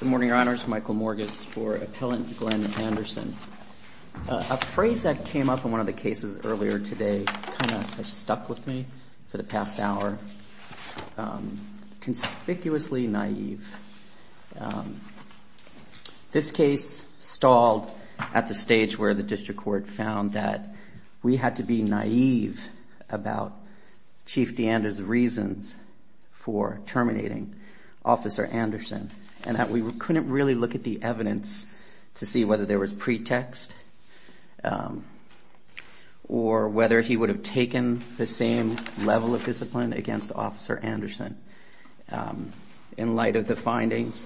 Good morning, Your Honors. Michael Morgas for Appellant Glenn Anderson. A phrase that came up in one of the cases earlier today kind of stuck with me for the past hour. Conspicuously naive. This case stalled at the stage where the district court found that we had to be naive about Chief DeAnders' reasons for terminating Officer Anderson and that we couldn't really look at the evidence to see whether there was pretext or whether he would have taken the same level of discipline against Chief DeAnders. In light of the findings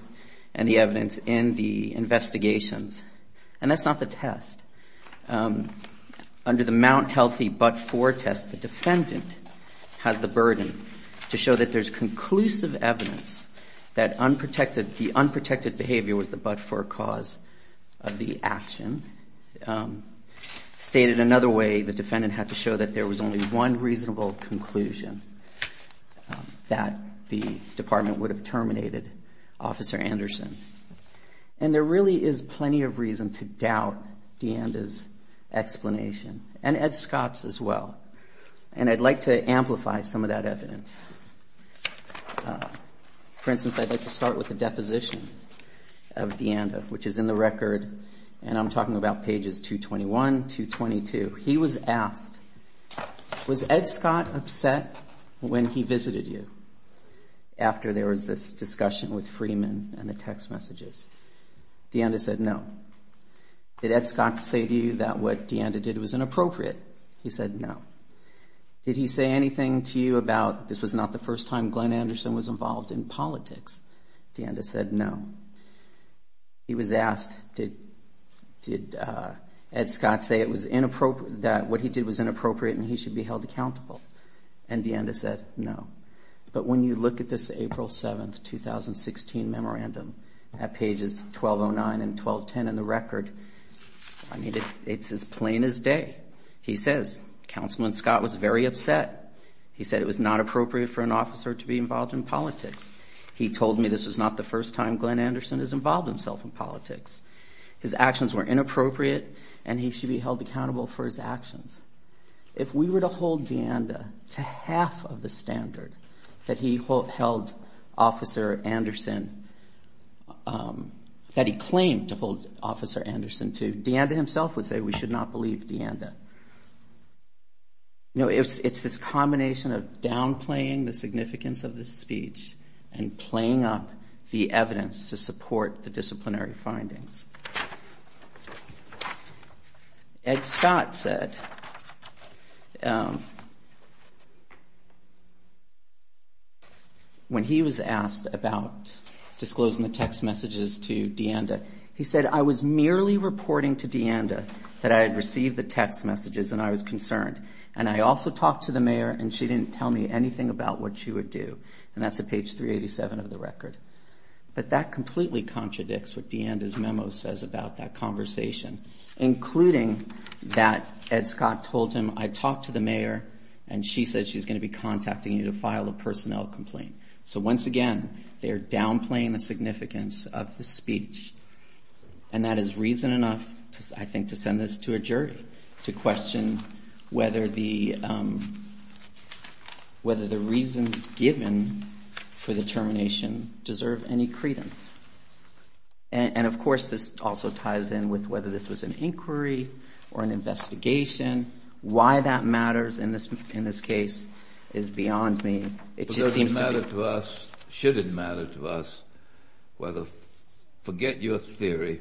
and the evidence in the investigations. And that's not the test. Under the Mount Healthy But-For test, the defendant has the burden to show that there's conclusive evidence that the unprotected behavior was the but-for cause of the action. Stated another way, the defendant had to show that there was only one reasonable conclusion that the department would have terminated Officer Anderson. And there really is plenty of reason to doubt DeAnders' explanation and Ed Scott's as well. And I'd like to amplify some of that evidence. For instance, I'd like to start with the deposition of DeAnders, which is in the record. And I'm talking about pages 221, 222. He was asked, was Ed Scott upset when he visited you after there was this discussion with Freeman and the text messages? DeAnders said no. Did Ed Scott say to you that what DeAnders did was inappropriate? He said no. Did he say anything to you about this was not the first time Glenn Anderson was involved in politics? DeAnders said no. He was asked, did Ed Scott say that what he did was inappropriate and he should be held accountable? And DeAnders said no. But when you look at this April 7, 2016 memorandum at pages 1209 and 1210 in the record, it's as plain as day. He says, Counselman Scott was very upset. He said it was not appropriate for an officer to be involved in politics. He told me this was not the first time Glenn Anderson has involved himself in politics. His actions were inappropriate and he should be held accountable for his actions. If we were to hold DeAnders to half of the standard that he claimed to hold Officer Anderson to, DeAnders himself would say we should not believe DeAnders. It's this combination of downplaying the significance of this speech and playing up the evidence to support the disciplinary findings. Ed Scott said when he was asked about disclosing the text messages to DeAnders, he said I was merely reporting to DeAnders that I had received the text messages and I was concerned. And I also talked to the mayor and she didn't tell me anything about what she would do. And that's at page 387 of the record. But that completely contradicts what DeAnders' memo says about that conversation, including that Ed Scott told him I talked to the mayor and she said she's going to be contacting you to file a personnel complaint. So once again, they're downplaying the significance of the speech and that is reason enough, I think, to send this to a jury to question whether the reasons given for the termination deserve any credence. And of course this also ties in with whether this was an inquiry or an investigation. Why that matters in this case is beyond me. It doesn't matter to us, shouldn't matter to us, whether, forget your theory,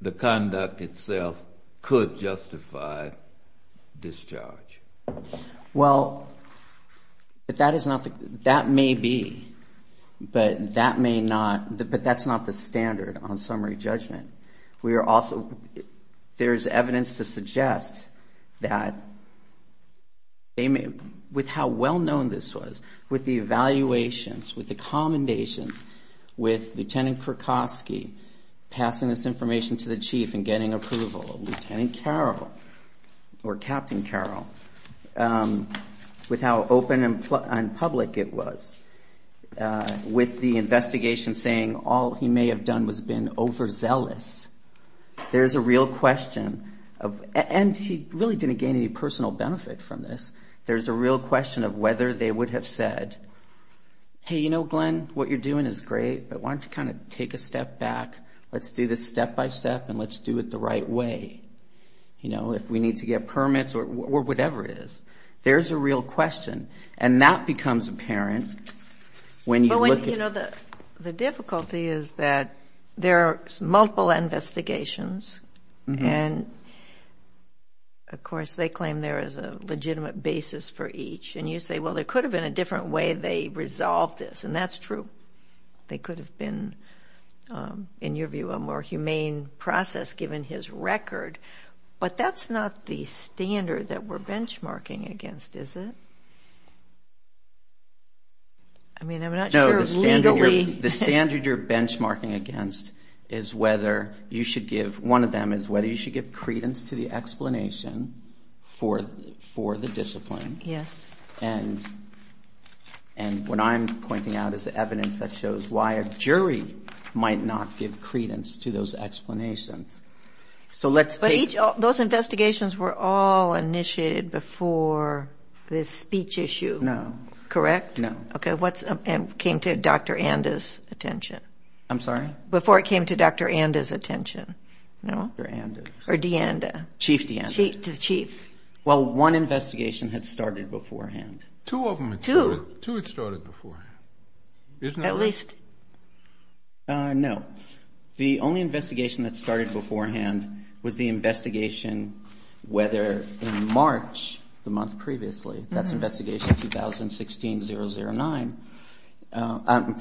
the conduct itself could justify discharge. Well, that may be, but that's not the standard on summary judgment. There's evidence to suggest that with how well-known this was, with the evaluations, with the commendations, with Lieutenant Krakowski passing this information to the chief and getting approval, Lieutenant Carroll or Captain Carroll, with how open and public it was, with the investigation saying all he may have done was been overzealous. There's a real question of, and she really didn't gain any personal benefit from this, there's a real question of whether they would have said, hey, you know, Glenn, what you're doing is great, but why don't you kind of take a step back, let's do this step-by-step and let's do it the right way, you know, if we need to get permits or whatever it is. There's a real question, and that becomes apparent when you look at... I mean, I'm not sure legally... No. Well, one investigation had started beforehand. Two of them had started beforehand, isn't that right? And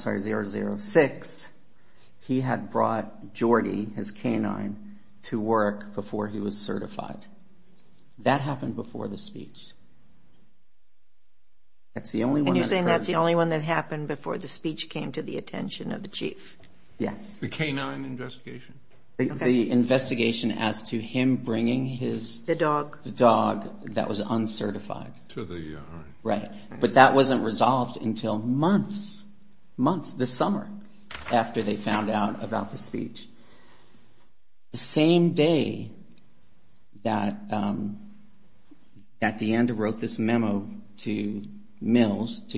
you're saying that's the only one that happened before the speech came to the attention of the chief? to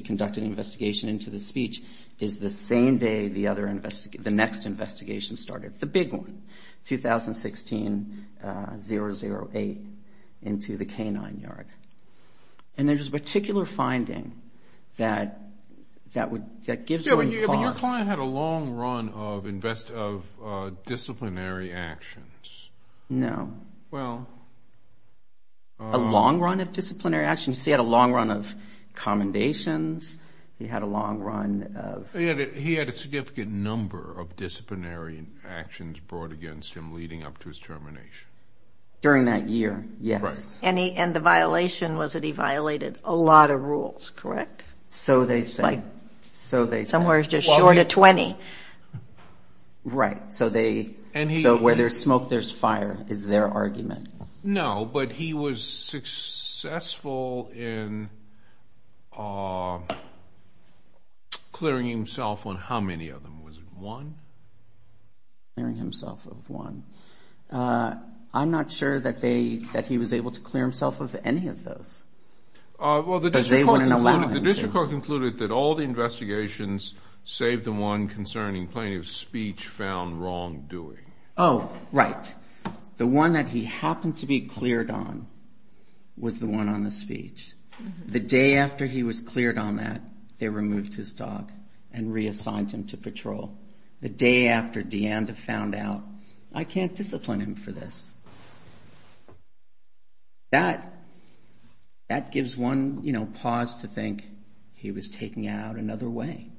conduct an investigation into the speech is the same day the next investigation started, the big one, 2016-008, into the K-9 yard. And there's this particular finding that gives me pause. No. Disciplinary actions. A long run of disciplinary actions, he had a long run of commendations, he had a long run of... He had a significant number of disciplinary actions brought against him leading up to his termination. During that year, yes. And the violation was that he violated a lot of rules, correct? No, but he was successful in clearing himself on how many of them, was it one? I'm not sure that he was able to clear himself of any of those. But they wouldn't allow him to. Oh, right. The day after he was cleared on that, they removed his dog and reassigned him to patrol. That gives one pause to think he was taking it out another way,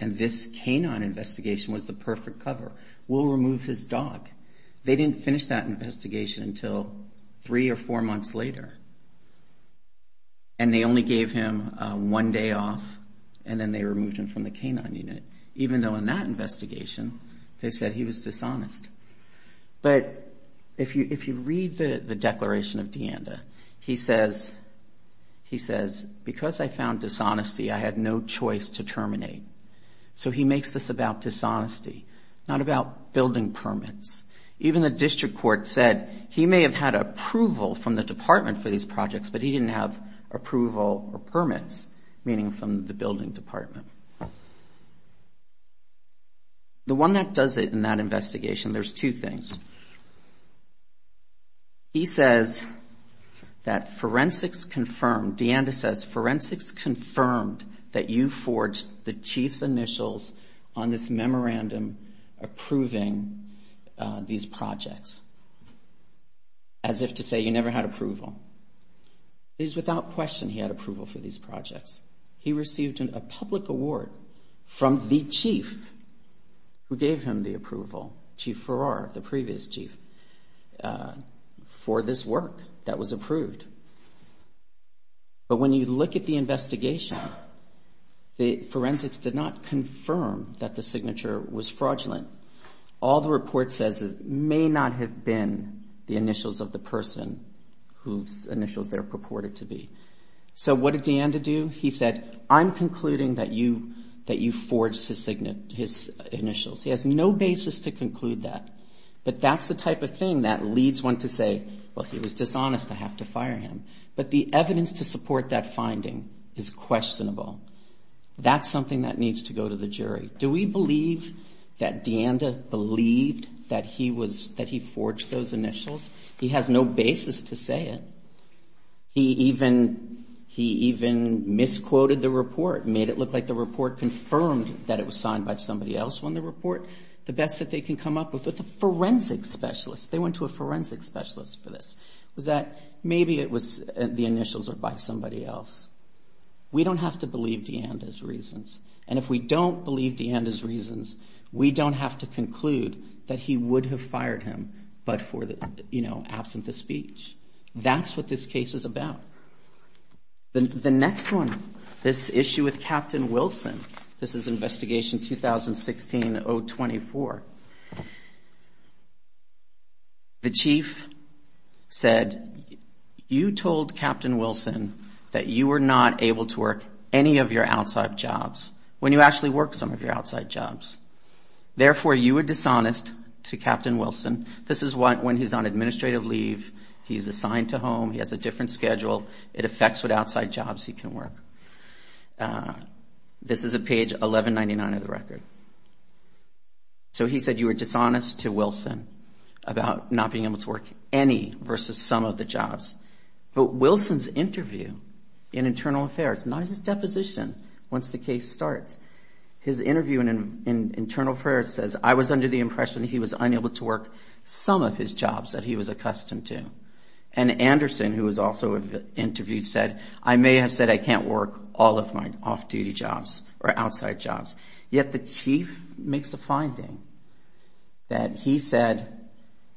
and this K-9 investigation was the perfect cover. We'll remove his dog. They didn't finish that investigation until three or four months later, and they only gave him one day off, and then they removed him from the K-9 unit, even though in that investigation, they said he was dishonest. But if you read the declaration of DeAnda, he says, because I found dishonesty, I had no choice to terminate. So he makes this about dishonesty, not about building permits. Even the district court said he may have had approval from the department for these projects, but he didn't have approval or permits, meaning from the building department. The one that does it in that investigation, there's two things. He says that forensics confirmed, DeAnda says, that forensics confirmed that you forged the chief's initials on this memorandum approving these projects, as if to say you never had approval. It is without question he had approval for these projects. He received a public award from the chief who gave him the approval, Chief Farrar, the previous chief, for this work that was approved. But when you look at the investigation, the forensics did not confirm that the signature was fraudulent. All the report says is may not have been the initials of the person whose initials they're purported to be. So what did DeAnda do? He said, I'm concluding that you forged his initials. He has no basis to conclude that, but that's the type of thing that leads one to say, well, he was dishonest, I have to fire him. But the evidence to support that finding is questionable. That's something that needs to go to the jury. Do we believe that DeAnda believed that he forged those initials? He has no basis to say it. He even misquoted the report, made it look like the report confirmed that it was signed by somebody else on the report. The best that they can come up with is a forensic specialist. They went to a forensic specialist for this. It was that maybe it was the initials were by somebody else. We don't have to believe DeAnda's reasons. And if we don't believe DeAnda's reasons, we don't have to conclude that he would have fired him, but for, you know, absent of speech. That's what this case is about. The next one, this issue with Captain Wilson, this is Investigation 2016-024. The chief said, you told Captain Wilson that you were not able to work any of your outside jobs when you actually worked some of your outside jobs. Therefore, you were dishonest to Captain Wilson. This is when he's on administrative leave. He's assigned to home. He has a different schedule. It affects what outside jobs he can work. This is at page 1199 of the record. So he said you were dishonest to Wilson about not being able to work any versus some of the jobs. But Wilson's interview in Internal Affairs, not his deposition, once the case starts, his interview in Internal Affairs says, I was under the impression that he was unable to work some of his jobs that he was accustomed to. And Anderson, who was also interviewed, said, I may have said I can't work all of my off-duty jobs or outside jobs. Yet the chief makes a finding that he said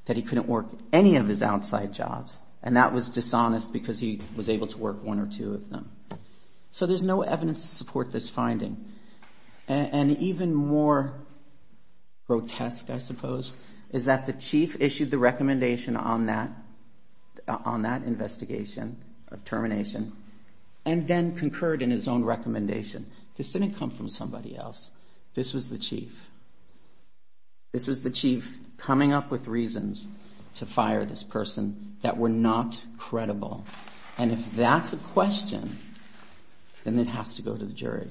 that he couldn't work any of his outside jobs, and that was dishonest because he was able to work one or two of them. So there's no evidence to support this finding. And even more grotesque, I suppose, is that the chief issued the recommendation on that investigation of termination and then concurred in his own recommendation. This didn't come from somebody else. This was the chief. This was the chief coming up with reasons to fire this person that were not credible. And if that's a question, then it has to go to the jury.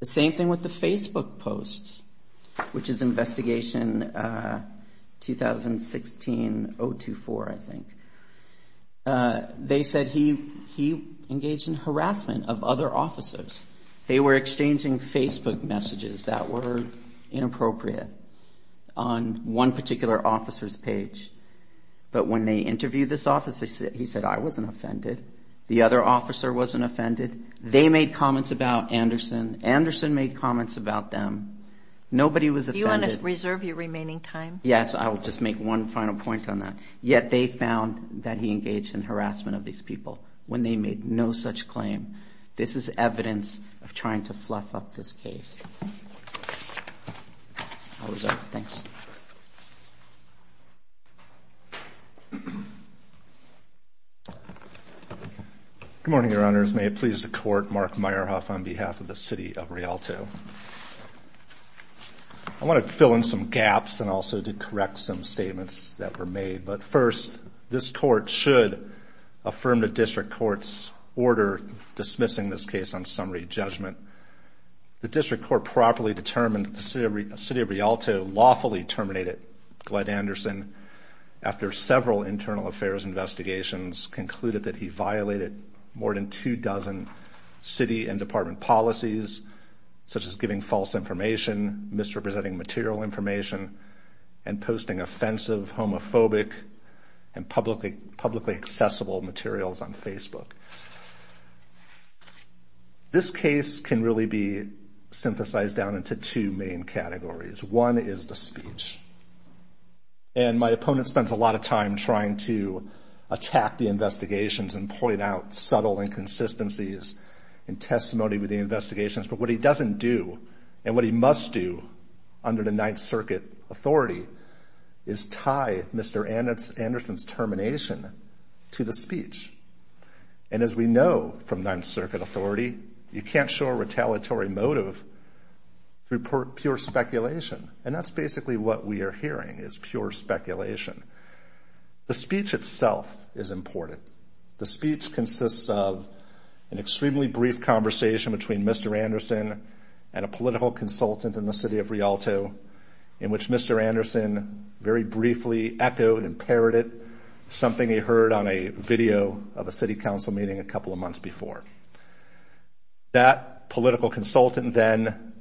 The same thing with the Facebook posts, which is investigation 2016-024, I think. They said he engaged in harassment of other officers. They were exchanging Facebook messages that were inappropriate on one particular officer's page. But when they interviewed this officer, he said, I wasn't offended. The other officer wasn't offended. They made comments about Anderson. Anderson made comments about them. Nobody was offended. Do you want to reserve your remaining time? Yes, I will just make one final point on that. Yet they found that he engaged in harassment of these people when they made no such claim. This is evidence of trying to fluff up this case. Good morning, Your Honors. May it please the Court, Mark Meyerhoff on behalf of the City of Rialto. I want to fill in some gaps and also to correct some statements that were made. But first, this Court should affirm the District Court's order dismissing this case on summary judgment. The District Court properly determined that the City of Rialto lawfully terminated Glenn Anderson after several internal affairs investigations concluded that he violated more than two dozen city and department policies, such as giving false information, misrepresenting material information, and publicly accessible materials on Facebook. This case can really be synthesized down into two main categories. One is the speech. And my opponent spends a lot of time trying to attack the investigations and point out subtle inconsistencies in testimony with the investigations. But what he doesn't do, and what he must do under the Ninth Circuit authority, is tie Mr. Anderson's termination to the speech. And as we know from Ninth Circuit authority, you can't show a retaliatory motive through pure speculation. And that's basically what we are hearing, is pure speculation. The speech itself is important. The speech consists of an extremely brief conversation between Mr. Anderson and a political consultant in the City of Rialto, in which Mr. Anderson very briefly echoed and parroted something he heard on a video of a City Council meeting a couple of months before. That political consultant then,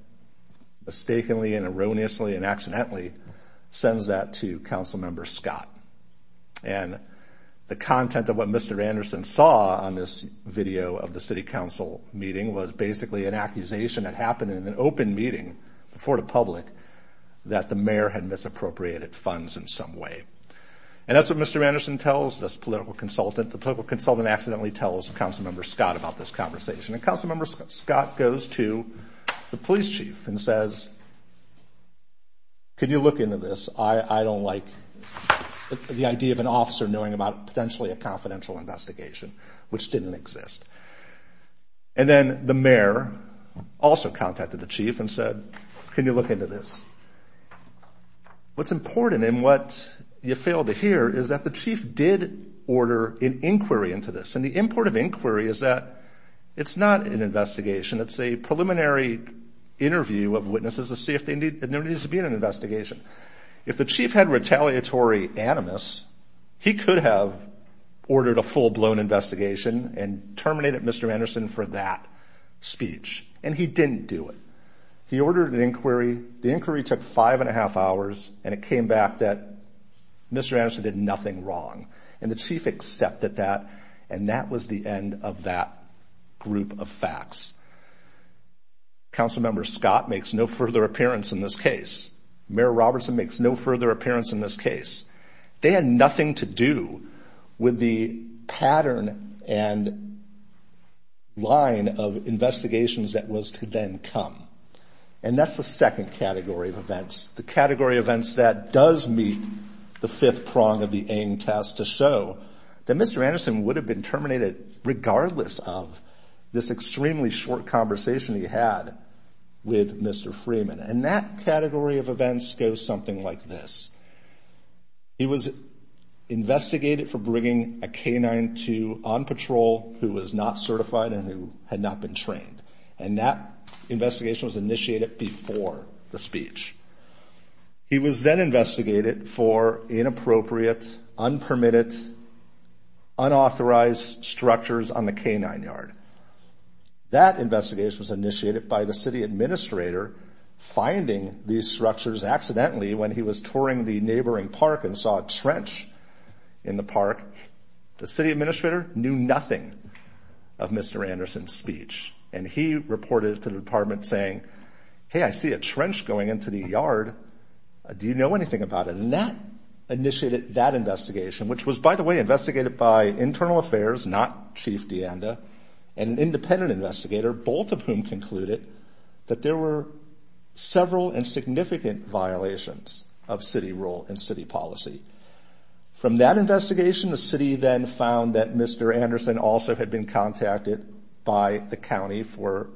mistakenly and erroneously and accidentally, sends that to Council Member Scott. And the content of what Mr. Anderson saw on this video of the City Council meeting was basically an accusation that happened in an open meeting, before the public, that the mayor had misappropriated funds in some way. And that's what Mr. Anderson tells this political consultant. The political consultant accidentally tells Council Member Scott about this conversation. And Council Member Scott goes to the police chief and says, can you look into this? I don't like the idea of an officer knowing about potentially a confidential investigation, which didn't exist. And then the mayor also contacted the chief and said, can you look into this? What's important and what you fail to hear is that the chief did order an inquiry into this. And the import of inquiry is that it's not an investigation. It's a preliminary interview of witnesses to see if there needs to be an investigation. If the chief had retaliatory animus, he could have ordered a full-blown investigation and terminated Mr. Anderson for that speech. And he didn't do it. He ordered an inquiry. The inquiry took five and a half hours, and it came back that Mr. Anderson did nothing wrong. And the chief accepted that, and that was the end of that group of facts. Council Member Scott makes no further appearance in this case. Mayor Robertson makes no further appearance in this case. They had nothing to do with the pattern and line of investigations that was to then come. And that's the second category of events, the category of events that does meet the fifth prong of the aim tasked to show that Mr. Anderson would have been terminated regardless of this extremely short conversation he had with Mr. Freeman. And that category of events goes something like this. He was investigated for bringing a K-9 to on patrol who was not certified and who had not been trained. And that investigation was initiated before the speech. He was then investigated for inappropriate, unpermitted, unauthorized structures on the K-9 yard. That investigation was initiated by the city administrator finding these structures accidentally when he was touring the neighboring park and saw a trench in the park. The city administrator knew nothing of Mr. Anderson's speech, and he reported to the department saying, hey, I see a trench going into the yard. Do you know anything about it? And that initiated that investigation, which was, by the way, investigated by internal affairs, not Chief DeAnda, and an independent investigator, both of whom concluded that there were several and significant violations of city rule and city policy. From that investigation, the city then found that Mr. Anderson also had been contacted by the county for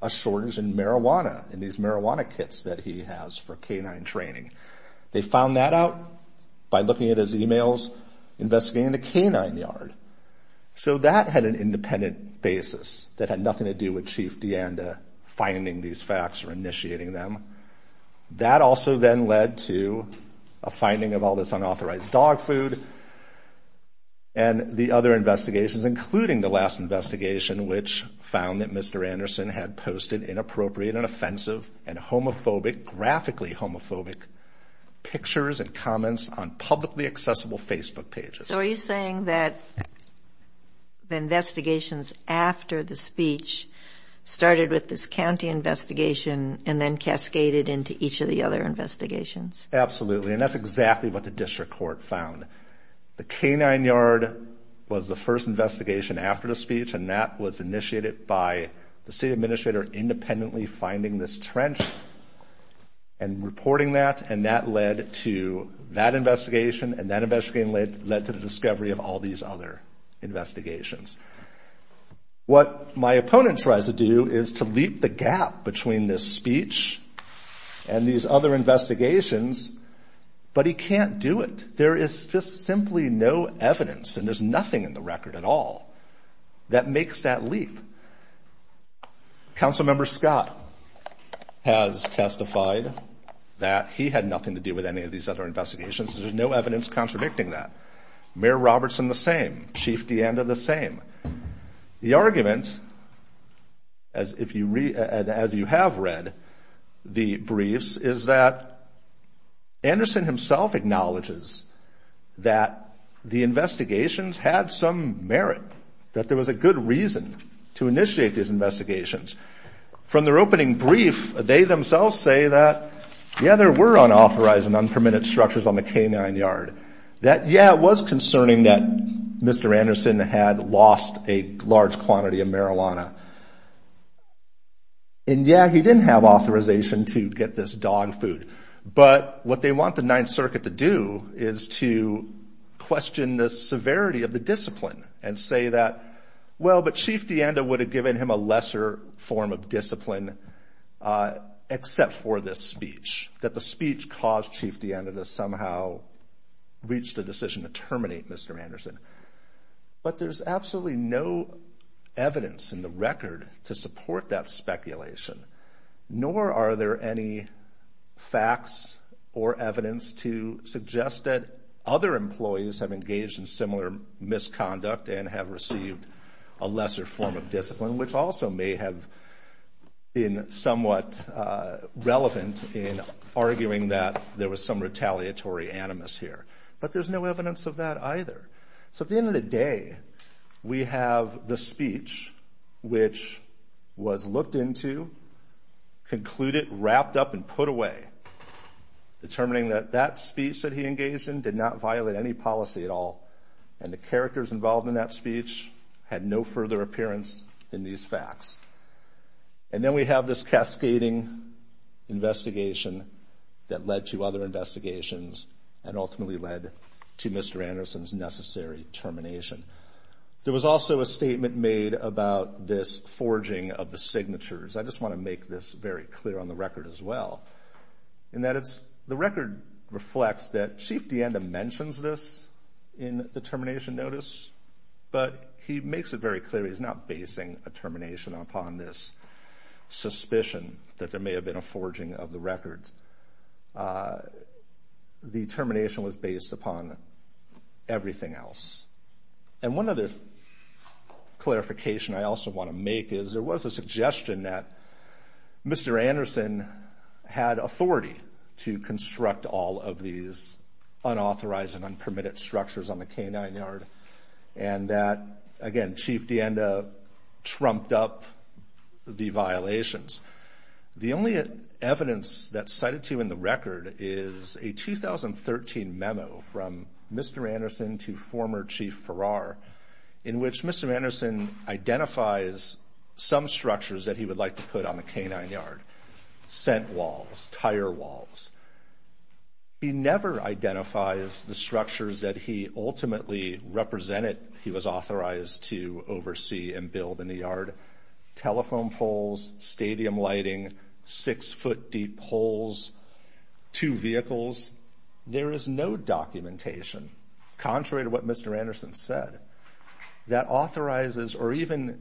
a shortage in marijuana, in these marijuana kits that he has for K-9 training. They found that out by looking at his e-mails, investigating the K-9 yard. So that had an independent basis that had nothing to do with Chief DeAnda finding these facts or initiating them. That also then led to a finding of all this unauthorized dog food and the other investigations, including the last investigation, which found that Mr. Anderson had posted inappropriate and offensive and homophobic, graphically homophobic, pictures and comments on publicly accessible Facebook pages. So are you saying that the investigations after the speech started with this county investigation and then cascaded into each of the other investigations? Absolutely, and that's exactly what the district court found. The K-9 yard was the first investigation after the speech, and that was initiated by the city administrator independently finding this trench and reporting that, and that led to that investigation, and that investigation led to the discovery of all these other investigations. What my opponent tries to do is to leap the gap between this speech and these other investigations but he can't do it. There is just simply no evidence, and there's nothing in the record at all, that makes that leap. Councilmember Scott has testified that he had nothing to do with any of these other investigations. There's no evidence contradicting that. Mayor Robertson, the same. Chief DeAnda, the same. The argument, as you have read the briefs, is that the K-9 yard was the first investigation. Anderson himself acknowledges that the investigations had some merit, that there was a good reason to initiate these investigations. From their opening brief, they themselves say that, yeah, there were unauthorized and unpermitted structures on the K-9 yard. That, yeah, it was concerning that Mr. Anderson had lost a large quantity of marijuana. And, yeah, he didn't have authorization to get this dog food, but what they want the Ninth Circuit to do is to question the severity of the discipline and say that, well, but Chief DeAnda would have given him a lesser form of discipline except for this speech, that the speech caused Chief DeAnda to somehow reach the decision to terminate Mr. Anderson. But there's absolutely no evidence in the record to support that speculation, nor are there any facts or evidence to suggest that other employees have engaged in similar misconduct and have received a lesser form of discipline, which also may have been somewhat relevant in arguing that there was some retaliatory animus here. But there's no evidence of that either. So at the end of the day, we have the speech, which was looked into, concluded, wrapped up, and put away, determining that that speech that he engaged in did not violate any policy at all, and the characters involved in that speech had no further appearance in these facts. And then we have this cascading investigation that led to other investigations and ultimately led to Mr. Anderson's necessary termination. There was also a statement made about this forging of the signatures. I just want to make this very clear on the record as well, in that the record reflects that Chief DeAnda mentions this in the termination notice, but he makes it very clear he's not basing a termination upon this suspicion that there may have been a forging of the records. The termination was based upon everything else. And one other clarification I also want to make is there was a suggestion that Mr. Anderson had authority to construct all of these unauthorized and unpermitted structures on the K-9 yard, and that, again, Chief DeAnda trumped up the violations. The only evidence that's cited to you in the record is a 2013 memo from Mr. Anderson to former Chief Farrar, in which Mr. Anderson identifies some structures that he would like to put on the K-9 yard, scent walls, tire walls. He never identifies the structures that he ultimately represented he was authorized to oversee and build in the yard. Telephone poles, stadium lighting, six-foot-deep holes, two vehicles. There is no documentation, contrary to what Mr. Anderson said, that authorizes or even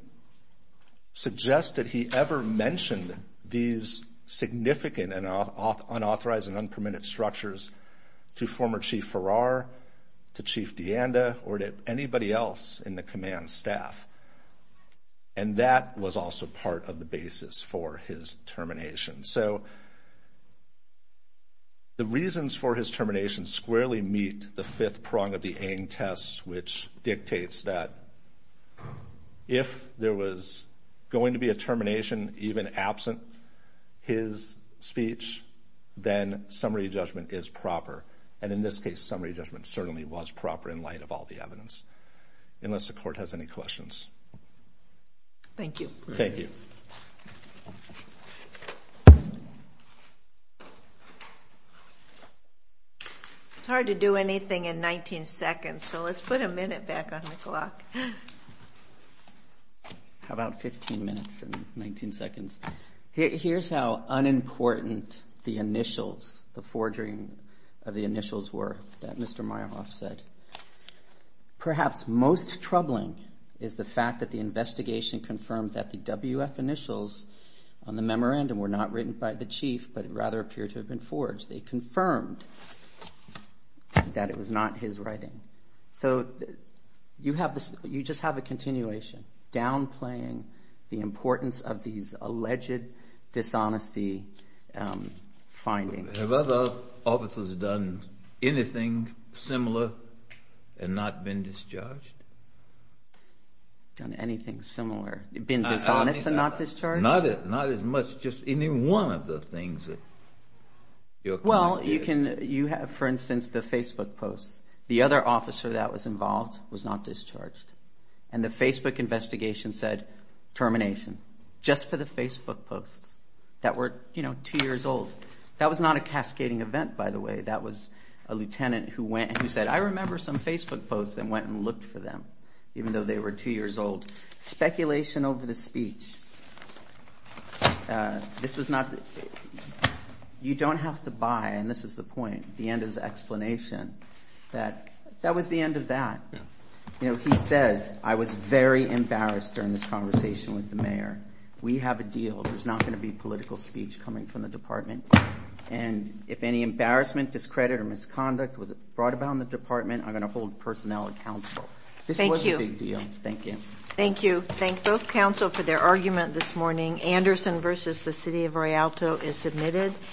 suggests that he ever mentioned these significant unauthorized and unpermitted structures to former Chief Farrar, to Chief DeAnda, or to anybody else in the command staff. And that was also part of the basis for his termination. So the reasons for his termination squarely meet the fifth prong of the Aang test, which dictates that if there was going to be a termination, even absent his speech, then summary judgment is proper. And in this case, summary judgment certainly was proper in light of all the evidence, unless the court has any questions. Thank you. It's hard to do anything in 19 seconds, so let's put a minute back on the clock. How about 15 minutes and 19 seconds? Here's how unimportant the initials, the forging of the initials were that Mr. Myerhoff said. Perhaps most troubling is the fact that the investigation confirmed that the WF initials on the memorandum were not written by the chief, but rather appeared to have been forged. They confirmed that it was not his writing. So you just have a continuation downplaying the importance of these alleged dishonesty findings. Have other officers done anything similar and not been discharged? Done anything similar? Been dishonest and not discharged? Not as much as just any one of the things that your client did. Well, you have, for instance, the Facebook posts. The other officer that was involved was not discharged. And the Facebook investigation said, termination, just for the Facebook posts that were two years old. That was not a cascading event, by the way. That was a lieutenant who said, I remember some Facebook posts and went and looked for them, even though they were two years old. Speculation over the speech. You don't have to buy, and this is the point, the end is the explanation. That was the end of that. He says, I was very embarrassed during this conversation with the mayor. We have a deal. There's not going to be political speech coming from the department. And if any embarrassment, discredit, or misconduct was brought about in the department, I'm going to hold personnel accountable. This was a big deal. Thank you.